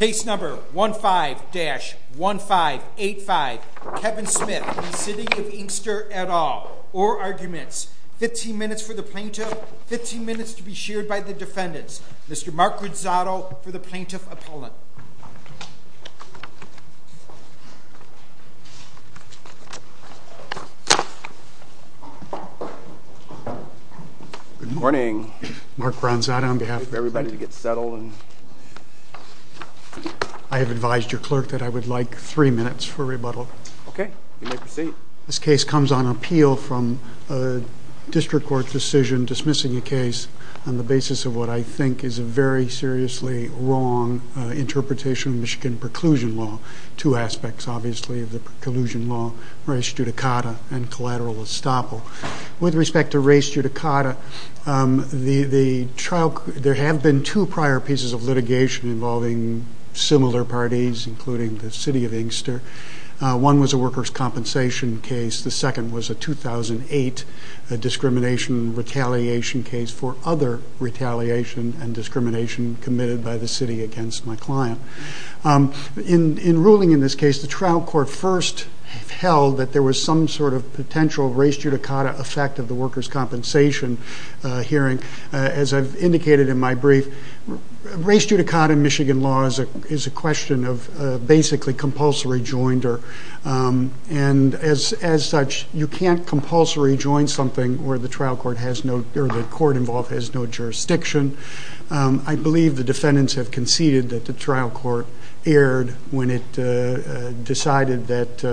15-1585 Kevin Smith v. City of Inkster et al. Orguments. 15 minutes for the plaintiff, 15 minutes to be shared by the defendants. Mr. Mark Granzato for the plaintiff appellant. Good morning. Mark Granzato on behalf of everybody. I have advised your clerk that I would like three minutes for rebuttal. Okay. You may proceed. This case comes on appeal from a district court decision dismissing a case on the basis of what I think is a very seriously wrong interpretation of Michigan preclusion law. Two aspects obviously of the preclusion law, race judicata and collateral estoppel. With respect to race judicata, there have been two prior pieces of litigation involving similar parties including the City of Inkster. One was a workers' compensation case, the second was a 2008 discrimination retaliation case for other retaliation and discrimination committed by the city against my client. In ruling in this case, the trial court first held that there was some sort of potential race judicata effect of the workers' compensation hearing. As I've indicated in my brief, race judicata in Michigan law is a question of basically compulsory joinder. As such, you can't compulsory join something where the court involved has no jurisdiction. I believe the defendants have conceded that the trial court erred when it decided that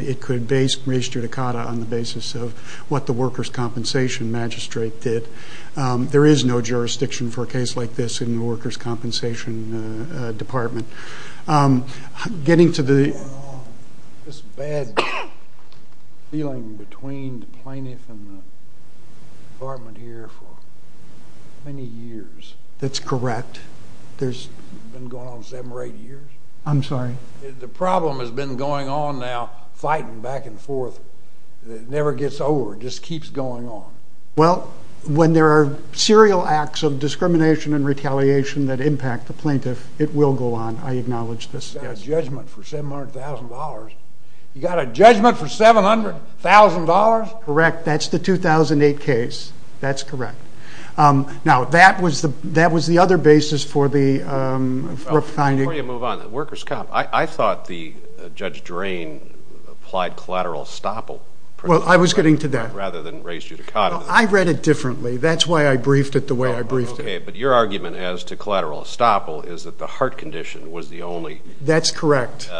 it could race judicata on the basis of what the workers' compensation magistrate did. There is no jurisdiction for a case like this in the workers' compensation department. Getting to the... It's a bad feeling between the plaintiff and the department here for many years. That's correct. It's been going on seven or eight years? I'm sorry? The problem has been going on now fighting back and forth. It never gets over. It just keeps going on. Well, when there are serial acts of discrimination and retaliation that impact the plaintiff, it will go on. I acknowledge this. You've got a judgment for $700,000? You've got a judgment for $700,000? Correct. That's the 2008 case. That's correct. Now, that was the other basis for the... Before you move on, workers' comp, I thought the Judge Drain applied collateral estoppel... Well, I was getting to that. ...rather than race judicata. I read it differently. That's why I briefed it the way I briefed it. Okay, but your argument as to collateral estoppel is that the heart condition was the only... That's correct.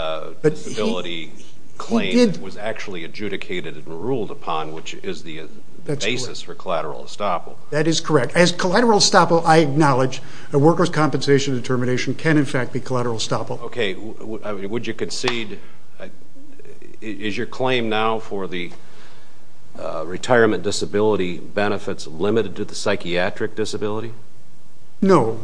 ...disability claim that was actually adjudicated and ruled upon, which is the basis for collateral estoppel. That is correct. As collateral estoppel, I acknowledge, a workers' compensation determination can, in fact, be collateral estoppel. Okay, would you concede, is your claim now for the retirement disability benefits limited to the psychiatric disability? No.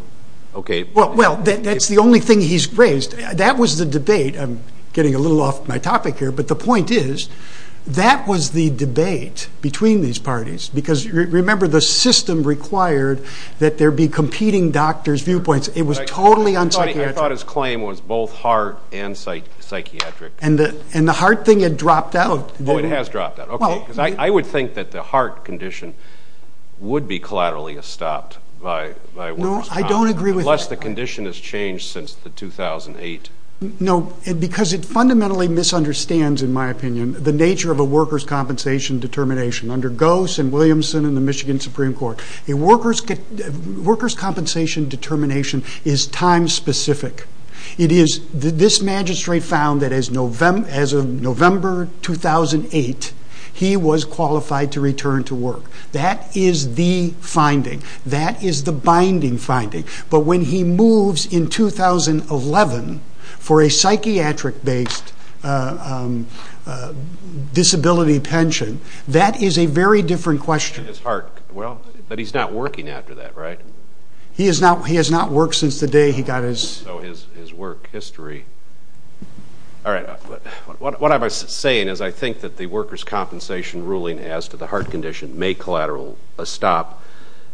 Okay. Well, that's the only thing he's raised. That was the debate. I'm getting a little off my topic here. But the point is, that was the debate between these parties because, remember, the system required that there be competing doctors' viewpoints. It was totally unsympathetic. I thought his claim was both heart and psychiatric. And the heart thing had dropped out. Oh, it has dropped out. Okay. Well... Because I would think that the heart condition would be collaterally estopped by workers' compensation. No, I don't agree with that. Unless the condition has changed since the 2008... No, because it fundamentally misunderstands, in my opinion, the nature of a workers' compensation determination. Under Gose and Williamson and the Michigan Supreme Court, a workers' compensation determination is time-specific. It is... This magistrate found that as of November 2008, he was qualified to return to work. That is the finding. That is the binding finding. But when he moves in 2011 for a psychiatric-based disability pension, that is a very different question. His heart... Well, but he's not working after that, right? He has not worked since the day he got his... So his work history... All right. What I'm saying is I think that the workers' compensation ruling as to the heart condition may collaterally estop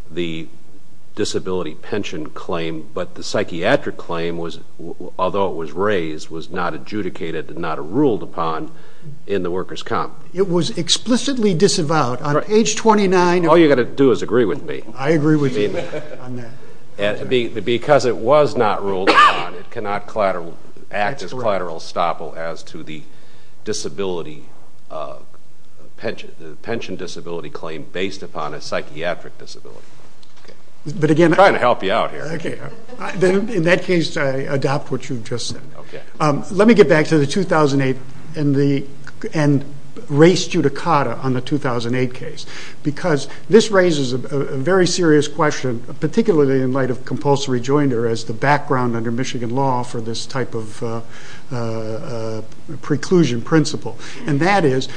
the disability pension claim, but the psychiatric claim, although it was raised, was not adjudicated and not ruled upon in the workers' comp. It was explicitly disavowed. On page 29... All you've got to do is agree with me. I agree with you on that. Because it was not ruled upon, it cannot act as collateral estoppel as to the pension disability claim based upon a psychiatric disability. I'm trying to help you out here. In that case, I adopt what you've just said. Let me get back to the 2008 and race judicata on the 2008 case, because this raises a very serious question, particularly in light of compulsory joinder as the background under Michigan law for this type of preclusion principle. And that is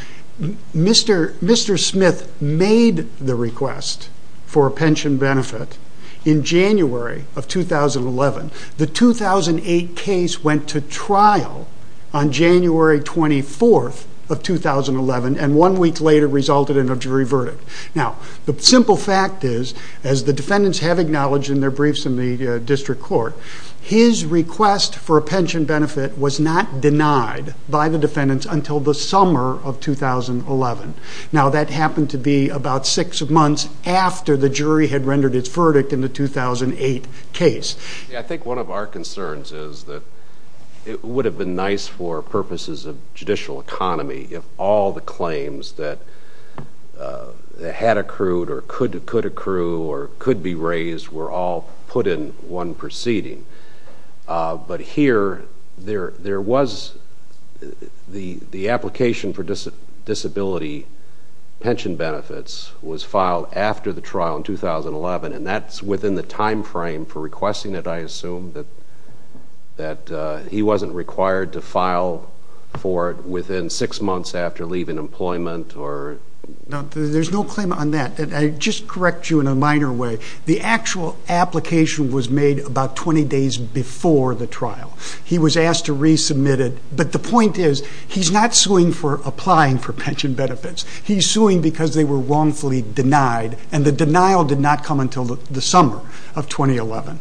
Mr. Smith made the request for a pension benefit in January of 2011. The 2008 case went to trial on January 24th of 2011 and one week later resulted in a jury verdict. Now, the simple fact is, as the defendants have acknowledged in their briefs in the district court, his request for a pension benefit was not denied by the defendants until the summer of 2011. Now, that happened to be about six months after the jury had rendered its verdict in the 2008 case. I think one of our concerns is that it would have been nice for purposes of judicial economy if all the claims that had accrued or could accrue or could be raised were all put in one proceeding. But here, the application for disability pension benefits was filed after the trial in 2011, and that's within the time frame for requesting it, I assume, that he wasn't required to file for it within six months after leaving employment or... No, there's no claim on that. I'll just correct you in a minor way. The actual application was made about 20 days before the trial. He was asked to resubmit it, but the point is, he's not suing for applying for pension benefits. He's suing because they were wrongfully denied, and the denial did not come until the summer of 2011.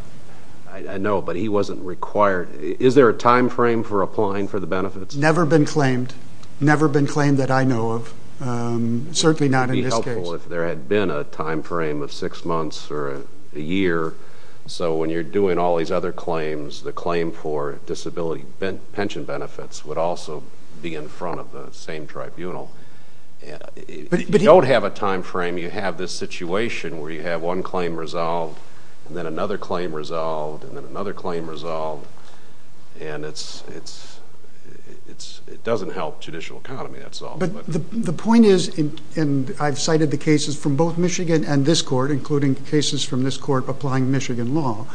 I know, but he wasn't required. Is there a time frame for applying for the benefits? Never been claimed. Never been claimed that I know of. Certainly not in this case. It would be helpful if there had been a time frame of six months or a year, so when you're doing all these other claims, the claim for disability pension benefits would also be in front of the same tribunal. If you don't have a time frame, you have this situation where you have one claim resolved, and then another claim resolved, and then another claim resolved, and it doesn't help the judicial economy, that's all. But the point is, and I've cited the cases from both Michigan and this court, including cases from this court applying Michigan law,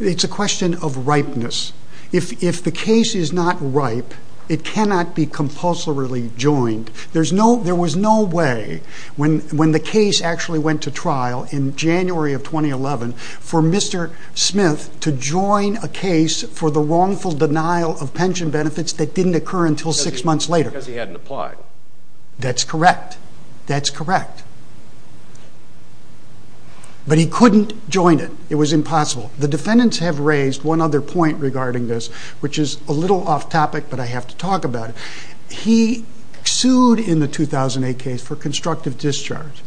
it's a question of ripeness. If the case is not ripe, it cannot be compulsorily joined. There was no way, when the case actually went to trial in January of 2011, for Mr. Smith to join a case for the wrongful denial of pension benefits that didn't occur until six months later. Because he hadn't applied. That's correct. That's correct. But he couldn't join it. It was impossible. The defendants have raised one other point regarding this, which is a little off topic, but I have to talk about it. He sued in the 2008 case for constructive discharge.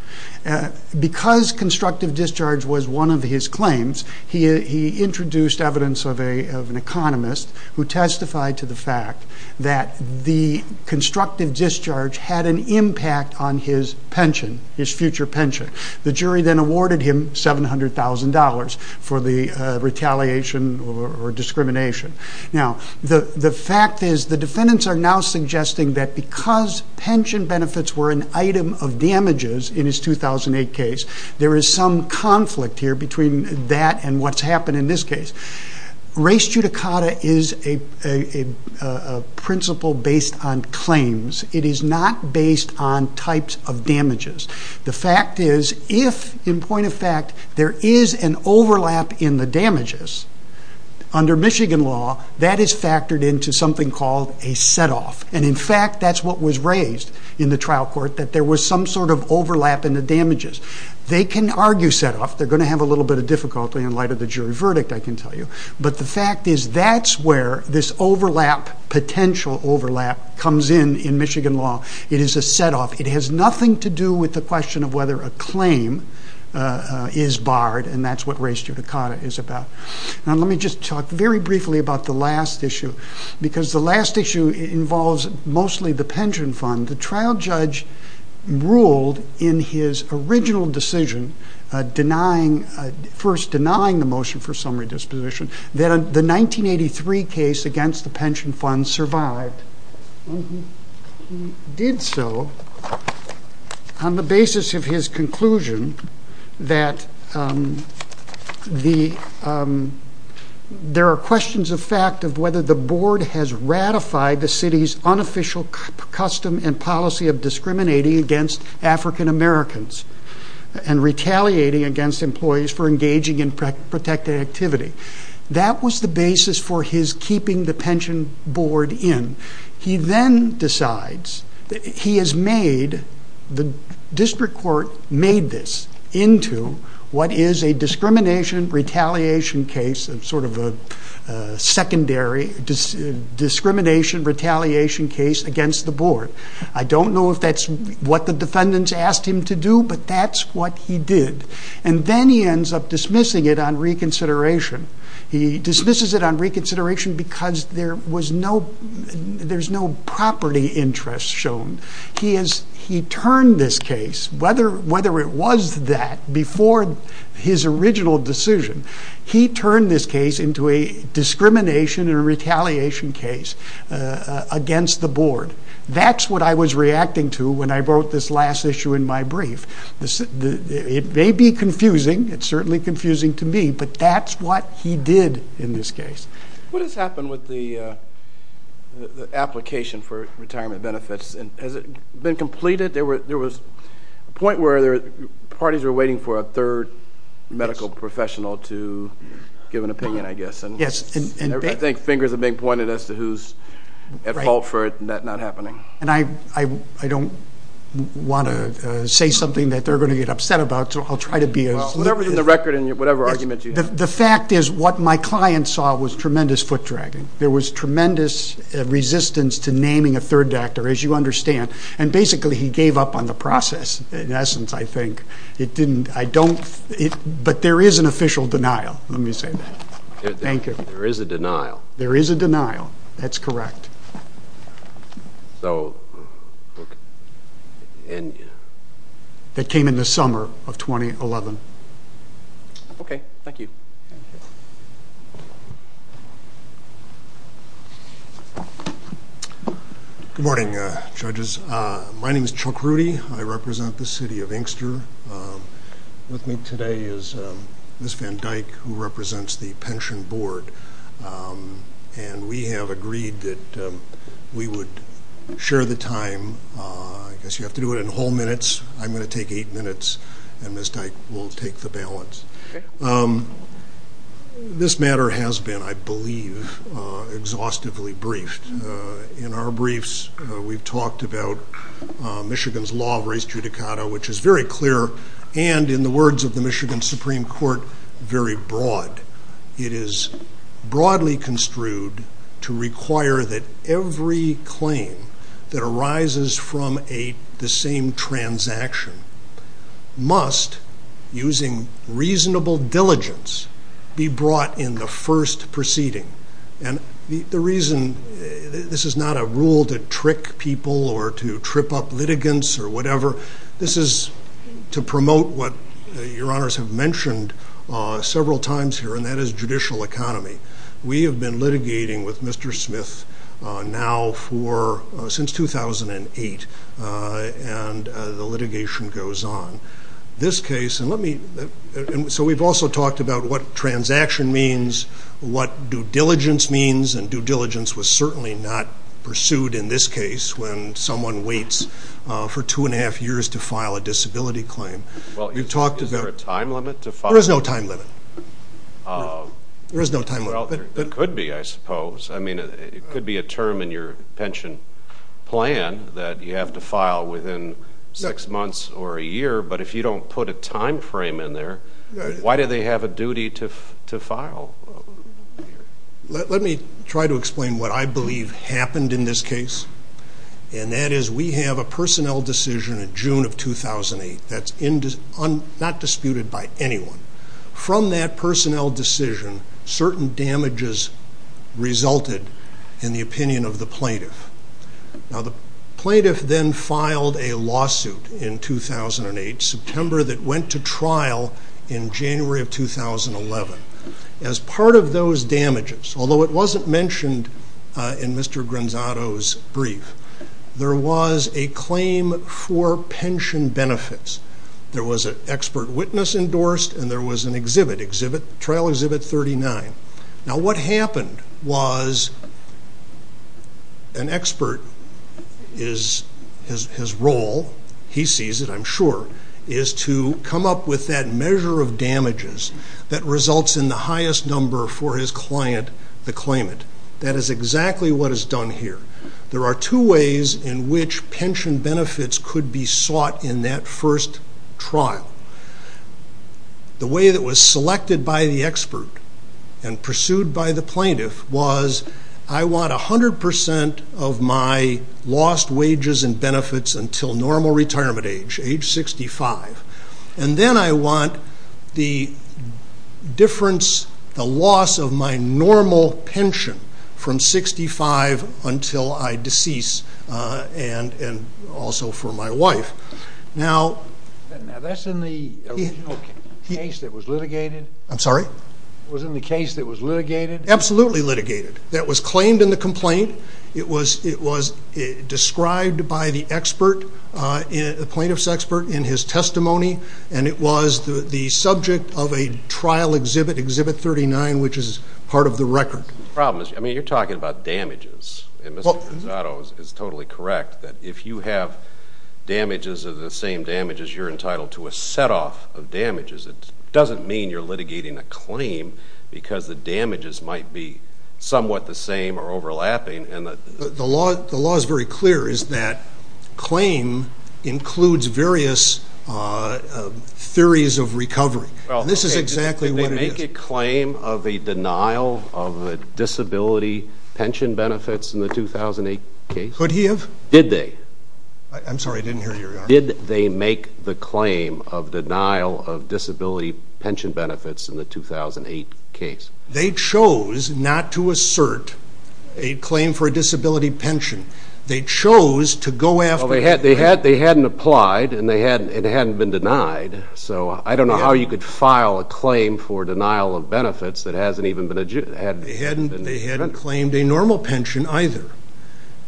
Because constructive discharge was one of his claims, he introduced evidence of an economist who testified to the fact that the constructive discharge had an impact on his pension, his future pension. The jury then awarded him $700,000 for the retaliation or discrimination. Now, the fact is, the defendants are now suggesting that because pension benefits were an item of damages in his 2008 case, there is some conflict here between that and what's happened in this case. Race judicata is a principle based on claims. It is not based on types of damages. The fact is, if, in point of fact, there is an overlap in the damages, under Michigan law, that is factored into something called a set-off. And in fact, that's what was raised in the trial court, that there was some sort of overlap in the damages. They can argue set-off. They're going to have a little bit of difficulty in light of the jury verdict, I can tell you. But the fact is, that's where this overlap, potential overlap, comes in in Michigan law. It is a set-off. It has nothing to do with the question of whether a claim is barred, and that's what race judicata is about. Now, let me just talk very briefly about the last issue, because the last issue involves mostly the pension fund. The trial judge ruled in his original decision, first denying the motion for summary disposition, that the 1983 case against the pension fund survived. He did so on the basis of his conclusion that there are questions of fact of whether the board has ratified the city's unofficial custom and policy of discriminating against African Americans and retaliating against employees for engaging in protected activity. That was the basis for his keeping the pension board in. He then decides, he has made, the district court made this into what is a discrimination retaliation case, sort of a secondary discrimination retaliation case against the board. I don't know if that's what the defendants asked him to do, but that's what he did. And then he ends up dismissing it on reconsideration. He dismisses it on reconsideration because there's no property interest shown. He turned this case, whether it was that, before his original decision, he turned this case into a discrimination and retaliation case against the board. That's what I was reacting to when I wrote this last issue in my brief. It may be confusing, it's certainly confusing to me, but that's what he did in this case. What has happened with the application for retirement benefits? Has it been completed? There was a point where parties were waiting for a third medical professional to give an opinion, I guess. Yes. I think fingers are being pointed as to who's at fault for it not happening. And I don't want to say something that they're going to get upset about, so I'll try to be as... Well, whatever's in the record and whatever arguments you have. The fact is what my client saw was tremendous foot dragging. There was tremendous resistance to naming a third actor, as you understand, and basically he gave up on the process, in essence, I think. It didn't, I don't, but there is an official denial. Let me say that. Thank you. There is a denial. There is a denial. That's correct. So... That came in the summer of 2011. Okay. Thank you. Good morning, judges. My name is Chuck Rudy. I represent the city of Inkster. With me today is Ms. Van Dyke, who represents the pension board. And we have agreed that we would share the time. I guess you have to do it in whole minutes. I'm going to take eight minutes, and Ms. Dyke will take the balance. This matter has been, I believe, exhaustively briefed. In our briefs, we've talked about Michigan's law of res judicata, which is very clear and, in the words of the Michigan Supreme Court, very broad. It is broadly construed to require that every claim that arises from the same transaction must, using reasonable diligence, be brought in the first proceeding. And the reason, this is not a rule to trick people or to trip up litigants or whatever. This is to promote what your honors have mentioned several times here, and that is judicial economy. We have been litigating with Mr. Smith now since 2008, and the litigation goes on. So we've also talked about what transaction means, what due diligence means. And due diligence was certainly not pursued in this case when someone waits for two and a half years to file a disability claim. Is there a time limit to file? There is no time limit. There could be, I suppose. It could be a term in your pension plan that you have to file within six months or a year. But if you don't put a time frame in there, why do they have a duty to file? Let me try to explain what I believe happened in this case. And that is we have a personnel decision in June of 2008 that's not disputed by anyone. From that personnel decision, certain damages resulted in the opinion of the plaintiff. Now the plaintiff then filed a lawsuit in 2008, September, that went to trial in January of 2011. As part of those damages, although it wasn't mentioned in Mr. Granzato's brief, there was a claim for pension benefits. There was an expert witness endorsed, and there was a trial exhibit 39. Now what happened was an expert, his role, he sees it, I'm sure, is to come up with that measure of damages that results in the highest number for his client to claim it. That is exactly what is done here. There are two ways in which pension benefits could be sought in that first trial. The way that was selected by the expert and pursued by the plaintiff was, I want 100% of my lost wages and benefits until normal retirement age, age 65. And then I want the difference, the loss of my normal pension from 65 until I decease, and also for my wife. Now that's in the original case that was litigated? I'm sorry? It was in the case that was litigated? Absolutely litigated. That was claimed in the complaint. It was described by the expert, the plaintiff's expert, in his testimony, and it was the subject of a trial exhibit, exhibit 39, which is part of the record. The problem is, I mean, you're talking about damages. And Mr. Gonzato is totally correct that if you have damages of the same damages, you're entitled to a set-off of damages. It doesn't mean you're litigating a claim because the damages might be somewhat the same or overlapping. The law is very clear, is that claim includes various theories of recovery. This is exactly what it is. Did they make a claim of a denial of disability pension benefits in the 2008 case? Could he have? Did they? I'm sorry. I didn't hear you. Did they make the claim of denial of disability pension benefits in the 2008 case? They chose not to assert a claim for a disability pension. They chose to go after it. Well, they hadn't applied, and it hadn't been denied. So I don't know how you could file a claim for denial of benefits that hasn't even been denied. They hadn't claimed a normal pension either.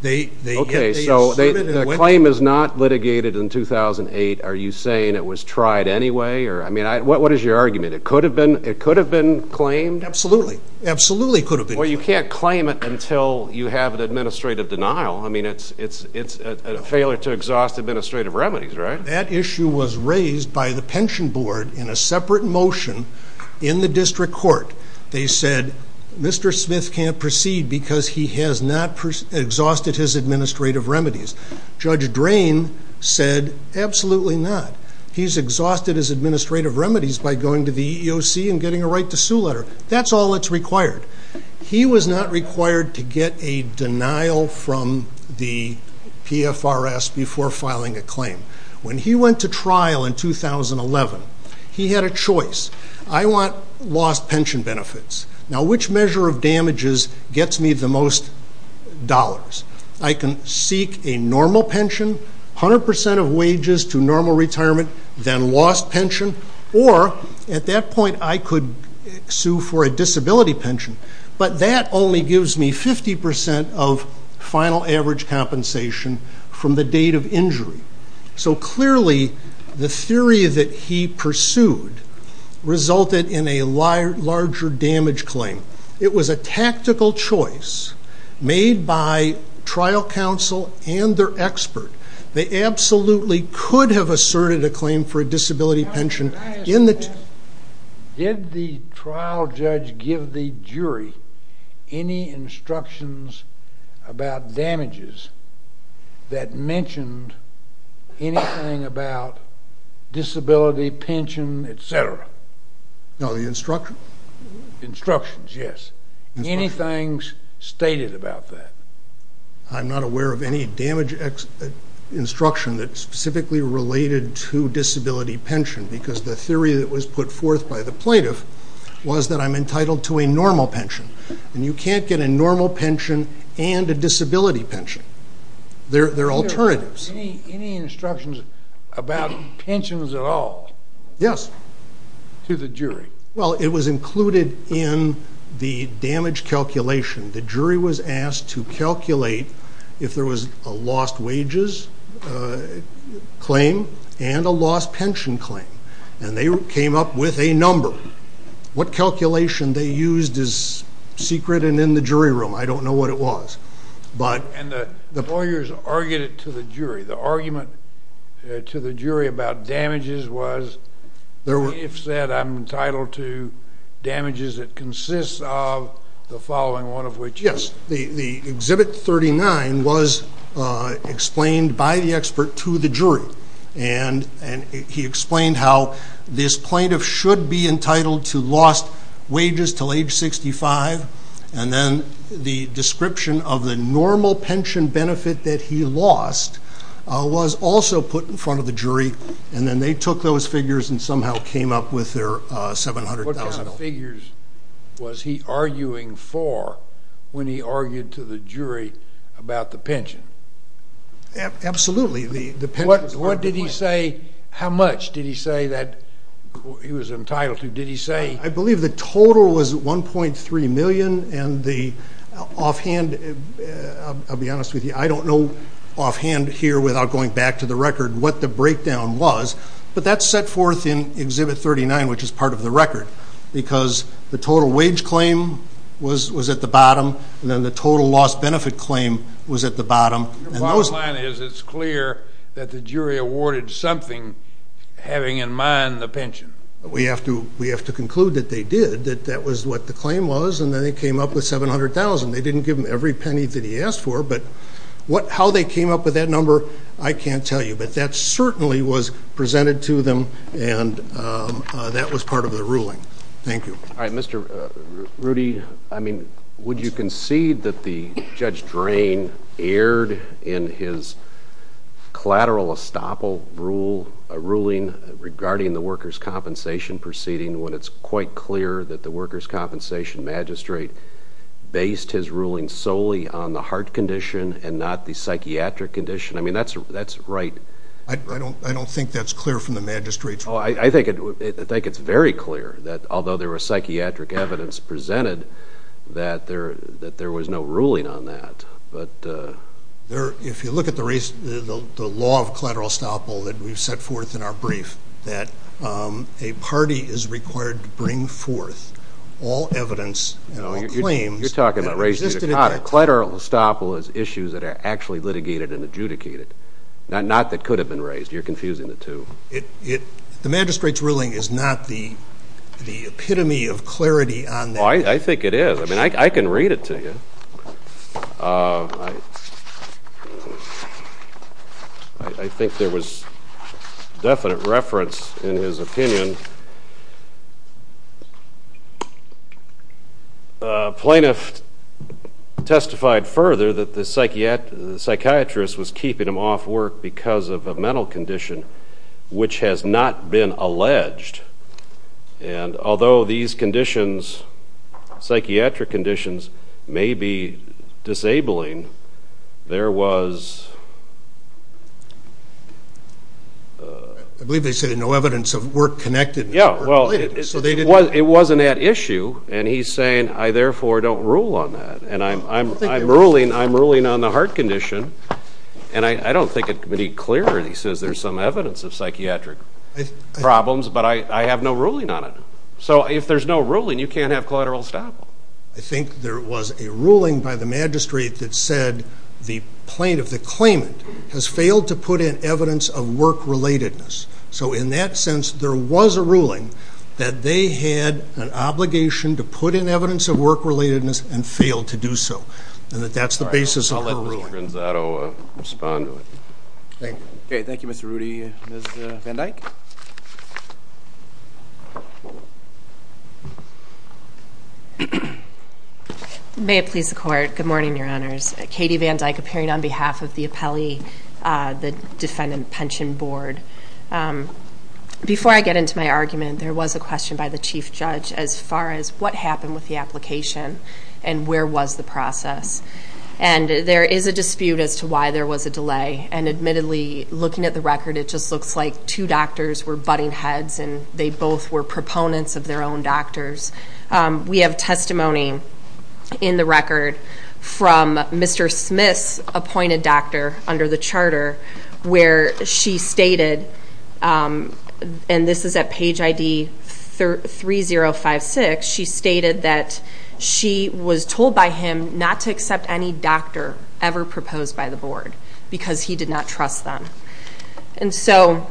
Okay, so the claim is not litigated in 2008. Are you saying it was tried anyway? I mean, what is your argument? It could have been claimed? Absolutely. Absolutely it could have been claimed. Well, you can't claim it until you have an administrative denial. I mean, it's a failure to exhaust administrative remedies, right? That issue was raised by the pension board in a separate motion in the district court. They said, Mr. Smith can't proceed because he has not exhausted his administrative remedies. Judge Drain said, absolutely not. He's exhausted his administrative remedies by going to the EEOC and getting a right to sue letter. That's all that's required. He was not required to get a denial from the PFRS before filing a claim. When he went to trial in 2011, he had a choice. I want lost pension benefits. Now, which measure of damages gets me the most dollars? I can seek a normal pension, 100% of wages to normal retirement, then lost pension, or at that point I could sue for a disability pension. But that only gives me 50% of final average compensation from the date of injury. So clearly the theory that he pursued resulted in a larger damage claim. It was a tactical choice made by trial counsel and their expert. They absolutely could have asserted a claim for a disability pension. Did the trial judge give the jury any instructions about damages that mentioned anything about disability, pension, et cetera? No, the instructions? Instructions, yes. Anything stated about that? I'm not aware of any damage instruction that's specifically related to disability pension because the theory that was put forth by the plaintiff was that I'm entitled to a normal pension. And you can't get a normal pension and a disability pension. They're alternatives. Any instructions about pensions at all? Yes. To the jury? Well, it was included in the damage calculation. The jury was asked to calculate if there was a lost wages claim and a lost pension claim, and they came up with a number. What calculation they used is secret and in the jury room. I don't know what it was. And the lawyers argued it to the jury. The argument to the jury about damages was, if said I'm entitled to damages that consist of the following, one of which. Yes. The Exhibit 39 was explained by the expert to the jury, and he explained how this plaintiff should be entitled to lost wages until age 65, and then the description of the normal pension benefit that he lost was also put in front of the jury, and then they took those figures and somehow came up with their $700,000. What kind of figures was he arguing for when he argued to the jury about the pension? Absolutely. What did he say? How much did he say that he was entitled to? Did he say? I believe the total was $1.3 million, and the offhand, I'll be honest with you, I don't know offhand here without going back to the record what the breakdown was, but that's set forth in Exhibit 39, which is part of the record, because the total wage claim was at the bottom, and then the total lost benefit claim was at the bottom. Your bottom line is it's clear that the jury awarded something having in mind the pension. We have to conclude that they did, that that was what the claim was, and then they came up with $700,000. They didn't give him every penny that he asked for, but how they came up with that number I can't tell you, but that certainly was presented to them, and that was part of the ruling. Thank you. All right. Mr. Rudy, I mean, would you concede that the Judge Drain aired in his collateral estoppel ruling regarding the workers' compensation proceeding when it's quite clear that the workers' compensation magistrate based his ruling solely on the heart condition and not the psychiatric condition? I mean, that's right. I don't think that's clear from the magistrate's point of view. I think it's very clear that although there was psychiatric evidence presented, that there was no ruling on that. If you look at the law of collateral estoppel that we've set forth in our brief, that a party is required to bring forth all evidence and all claims that existed at that time. You're talking about raising a collateral estoppel as issues that are actually litigated and adjudicated, not that could have been raised. You're confusing the two. The magistrate's ruling is not the epitome of clarity on that. I think it is. I mean, I can read it to you. I think there was definite reference in his opinion. Plaintiff testified further that the psychiatrist was keeping him off work because of a mental condition, which has not been alleged. And although these conditions, psychiatric conditions, may be disabling, there was... I believe they said no evidence of work connected. Yeah, well, it wasn't at issue, and he's saying, I therefore don't rule on that. And I'm ruling on the heart condition, and I don't think it can be clearer. He says there's some evidence of psychiatric problems. But I have no ruling on it. So if there's no ruling, you can't have collateral estoppel. I think there was a ruling by the magistrate that said the plaintiff, the claimant, has failed to put in evidence of work-relatedness. So in that sense, there was a ruling that they had an obligation to put in evidence of work-relatedness and failed to do so, and that that's the basis of their ruling. I'll let Mr. Gonzato respond to it. Thank you. Okay, thank you, Mr. Rudy. Ms. Van Dyke? May it please the Court. Good morning, Your Honors. Katie Van Dyke, appearing on behalf of the appellee, the Defendant Pension Board. Before I get into my argument, there was a question by the Chief Judge as far as what happened with the application and where was the process. And there is a dispute as to why there was a delay. And admittedly, looking at the record, it just looks like two doctors were butting heads and they both were proponents of their own doctors. We have testimony in the record from Mr. Smith's appointed doctor under the charter where she stated, and this is at page ID 3056, she stated that she was told by him not to accept any doctor ever proposed by the board because he did not trust them. And so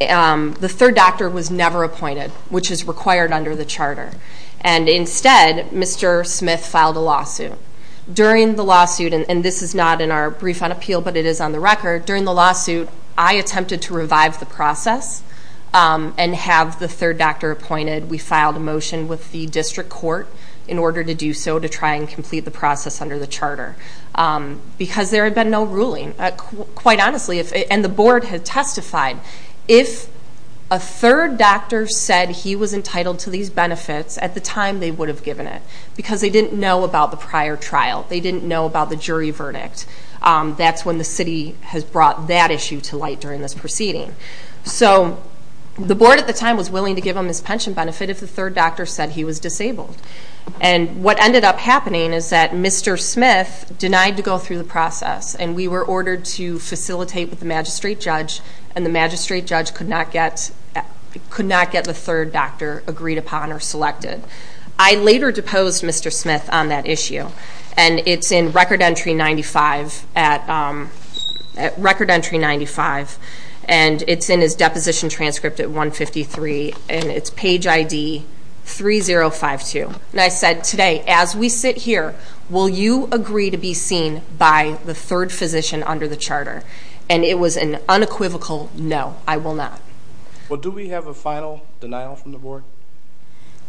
the third doctor was never appointed, which is required under the charter. And instead, Mr. Smith filed a lawsuit. During the lawsuit, and this is not in our brief on appeal, but it is on the record, during the lawsuit I attempted to revive the process and have the third doctor appointed. We filed a motion with the district court in order to do so to try and complete the process under the charter. Because there had been no ruling, quite honestly, and the board had testified. If a third doctor said he was entitled to these benefits, at the time they would have given it because they didn't know about the prior trial. They didn't know about the jury verdict. That's when the city has brought that issue to light during this proceeding. So the board at the time was willing to give him his pension benefit if the third doctor said he was disabled. And what ended up happening is that Mr. Smith denied to go through the process, and we were ordered to facilitate with the magistrate judge, and the magistrate judge could not get the third doctor agreed upon or selected. I later deposed Mr. Smith on that issue, and it's in Record Entry 95. And it's in his deposition transcript at 153, and it's page ID 3052. And I said, today, as we sit here, will you agree to be seen by the third physician under the charter? And it was an unequivocal no, I will not. Well, do we have a final denial from the board?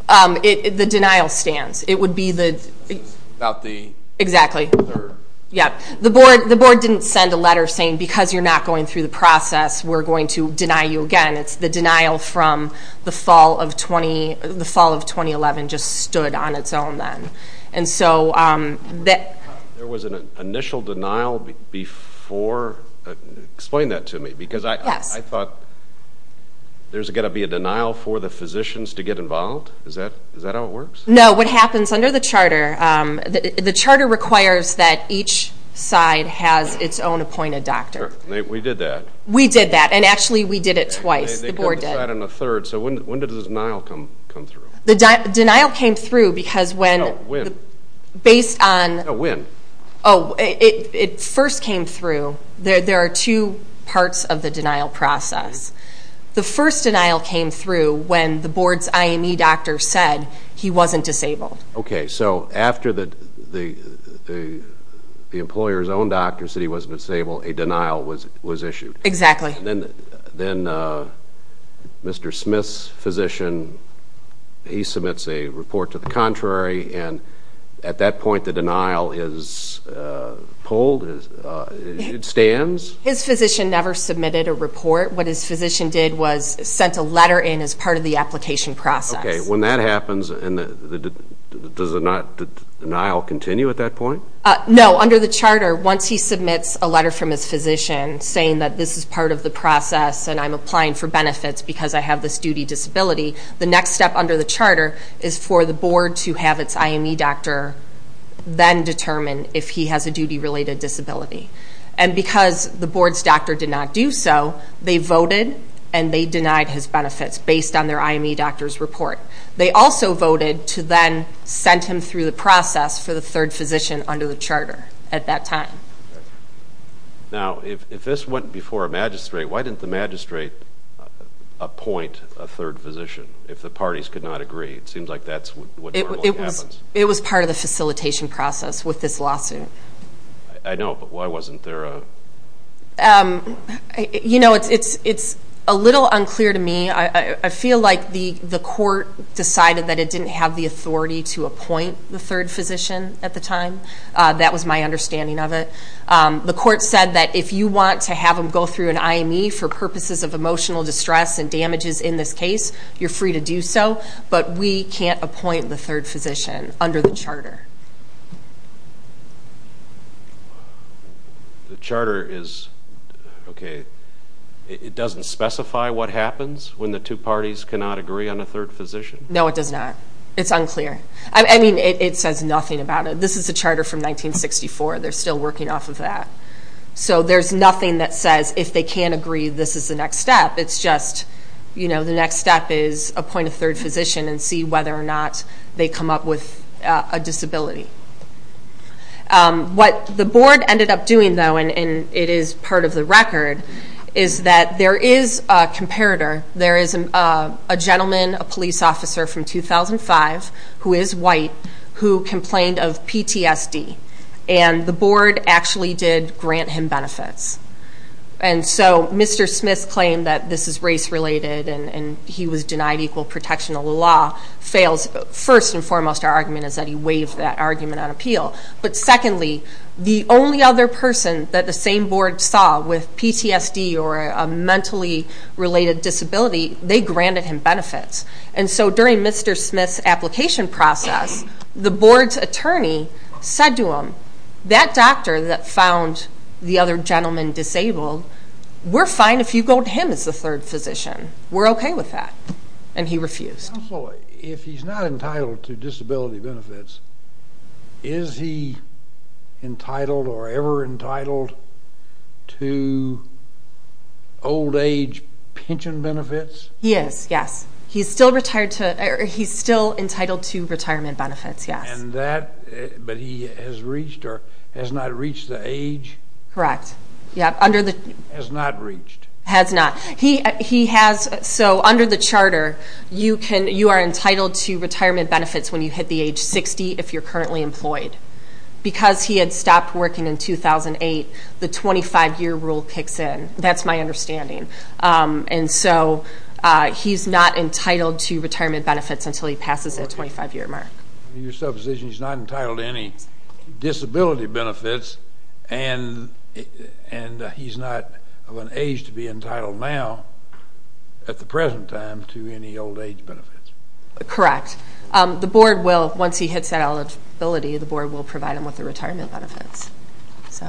The denial stands. It would be the... About the... Exactly. Third. Yeah. The board didn't send a letter saying, because you're not going through the process, we're going to deny you again. It's the denial from the fall of 2011 just stood on its own then. And so that... There was an initial denial before. Explain that to me, because I thought there's got to be a denial for the physicians to get involved. No, what happens under the charter, the charter requires that each side has its own appointed doctor. We did that. We did that. And actually, we did it twice. The board did. They cut the side on the third. So when did the denial come through? The denial came through because when... When? Based on... When? Oh, it first came through. There are two parts of the denial process. The first denial came through when the board's IME doctor said he wasn't disabled. Okay, so after the employer's own doctor said he wasn't disabled, a denial was issued. Exactly. Then Mr. Smith's physician, he submits a report to the contrary, and at that point the denial is pulled? It stands? His physician never submitted a report. What his physician did was sent a letter in as part of the application process. Okay, when that happens, does the denial continue at that point? No, under the charter, once he submits a letter from his physician saying that this is part of the process and I'm applying for benefits because I have this duty disability, the next step under the charter is for the board to have its IME doctor then determine if he has a duty-related disability. And because the board's doctor did not do so, they voted and they denied his benefits based on their IME doctor's report. They also voted to then send him through the process for the third physician under the charter at that time. Now, if this went before a magistrate, why didn't the magistrate appoint a third physician if the parties could not agree? It seems like that's what normally happens. It was part of the facilitation process with this lawsuit. I know, but why wasn't there a... You know, it's a little unclear to me. I feel like the court decided that it didn't have the authority to appoint the third physician at the time. That was my understanding of it. The court said that if you want to have him go through an IME for purposes of emotional distress and damages in this case, you're free to do so, but we can't appoint the third physician under the charter. The charter is... Okay, it doesn't specify what happens when the two parties cannot agree on a third physician? No, it does not. It's unclear. I mean, it says nothing about it. This is a charter from 1964. They're still working off of that. So there's nothing that says if they can't agree, this is the next step. It's just, you know, the next step is appoint a third physician and see whether or not they come up with a disability. What the board ended up doing, though, and it is part of the record, is that there is a comparator. There is a gentleman, a police officer from 2005, who is white, who complained of PTSD, and the board actually did grant him benefits. And so Mr. Smith's claim that this is race-related and he was denied equal protection of the law fails. First and foremost, our argument is that he waived that argument on appeal. But secondly, the only other person that the same board saw with PTSD or a mentally-related disability, they granted him benefits. And so during Mr. Smith's application process, the board's attorney said to him, that doctor that found the other gentleman disabled, we're fine if you go to him as the third physician. We're okay with that. And he refused. Counsel, if he's not entitled to disability benefits, is he entitled or ever entitled to old-age pension benefits? He is, yes. He's still entitled to retirement benefits, yes. And that, but he has reached or has not reached the age? Correct. Has not reached. Has not. He has, so under the charter, you are entitled to retirement benefits when you hit the age 60 if you're currently employed. Because he had stopped working in 2008, the 25-year rule kicks in. That's my understanding. And so he's not entitled to retirement benefits until he passes that 25-year mark. Your supposition is he's not entitled to any disability benefits and he's not of an age to be entitled now at the present time to any old-age benefits. Correct. The board will, once he hits that eligibility, the board will provide him with the retirement benefits. So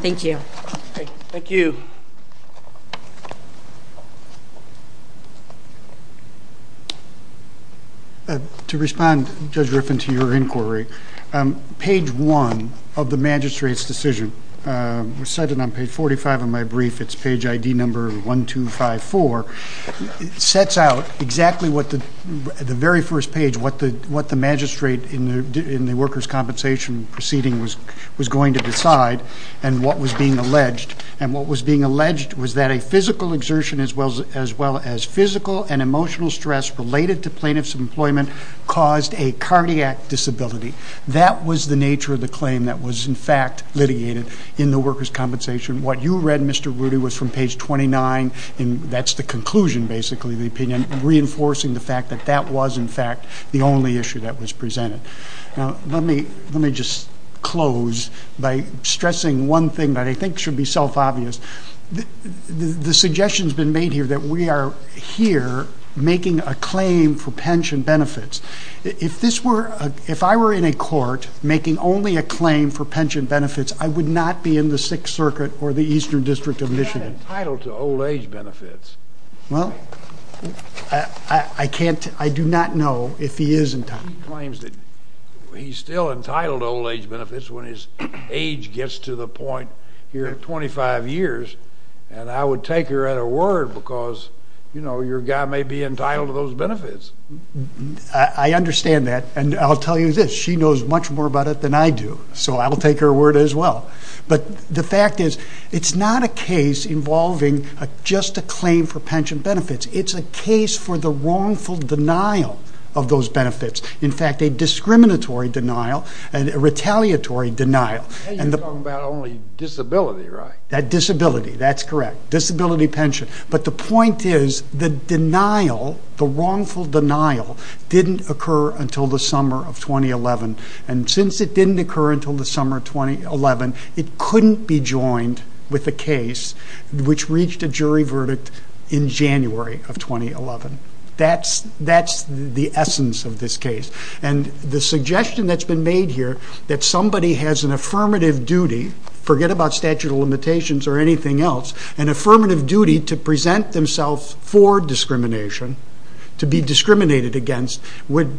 thank you. Thank you. To respond, Judge Griffin, to your inquiry, page one of the magistrate's decision was cited on page 45 of my brief. It's page ID number 1254. It sets out exactly what the very first page, what the magistrate in the workers' compensation proceeding was going to decide and what was being alleged, was that a physical exertion as well as physical and emotional stress related to plaintiff's employment caused a cardiac disability. That was the nature of the claim that was, in fact, litigated in the workers' compensation. What you read, Mr. Rudy, was from page 29, and that's the conclusion, basically, of the opinion, reinforcing the fact that that was, in fact, the only issue that was presented. Now let me just close by stressing one thing that I think should be self-obvious. The suggestion has been made here that we are here making a claim for pension benefits. If I were in a court making only a claim for pension benefits, I would not be in the Sixth Circuit or the Eastern District of Michigan. He's not entitled to old-age benefits. Well, I do not know if he is entitled. He claims that he's still entitled to old-age benefits when his age gets to the point here at 25 years, and I would take her at her word because, you know, your guy may be entitled to those benefits. I understand that, and I'll tell you this. She knows much more about it than I do, so I will take her word as well. But the fact is it's not a case involving just a claim for pension benefits. It's a case for the wrongful denial of those benefits, in fact, a discriminatory denial, a retaliatory denial. You're talking about only disability, right? Disability, that's correct. Disability pension. But the point is the denial, the wrongful denial, didn't occur until the summer of 2011, and since it didn't occur until the summer of 2011, it couldn't be joined with a case which reached a jury verdict in January of 2011. That's the essence of this case. And the suggestion that's been made here, that somebody has an affirmative duty, forget about statute of limitations or anything else, an affirmative duty to present themselves for discrimination, to be discriminated against, would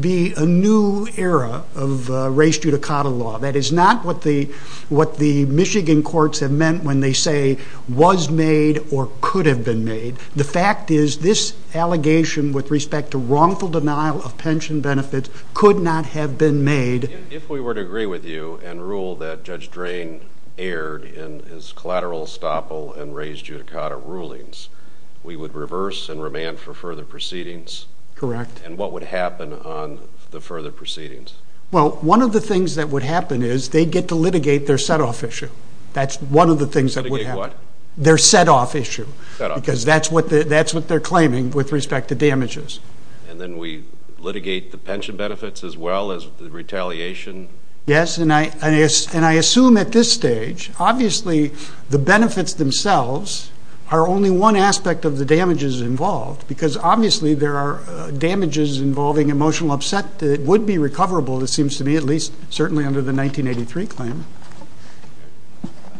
be a new era of race judicata law. That is not what the Michigan courts have meant when they say, was made or could have been made. The fact is this allegation with respect to wrongful denial of pension benefits could not have been made... If we were to agree with you and rule that Judge Drain erred in his collateral estoppel and race judicata rulings, we would reverse and remand for further proceedings? Correct. And what would happen on the further proceedings? Well, one of the things that would happen is they'd get to litigate their set-off issue. That's one of the things that would happen. Litigate what? Their set-off issue. Set-off. Because that's what they're claiming with respect to damages. And then we litigate the pension benefits as well as the retaliation? Yes, and I assume at this stage, obviously the benefits themselves are only one aspect of the damages involved, because obviously there are damages involving emotional upset that would be recoverable, it seems to me, at least certainly under the 1983 claim.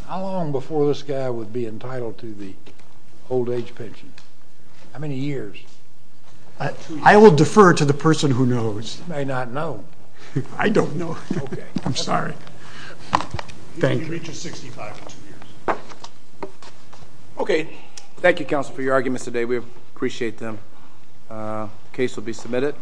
How long before this guy would be entitled to the old-age pension? How many years? I will defer to the person who knows. You may not know. I don't know. Okay. I'm sorry. Thank you. He reaches 65 in two years. Okay. Thank you, counsel, for your arguments today. We appreciate them. The case will be submitted.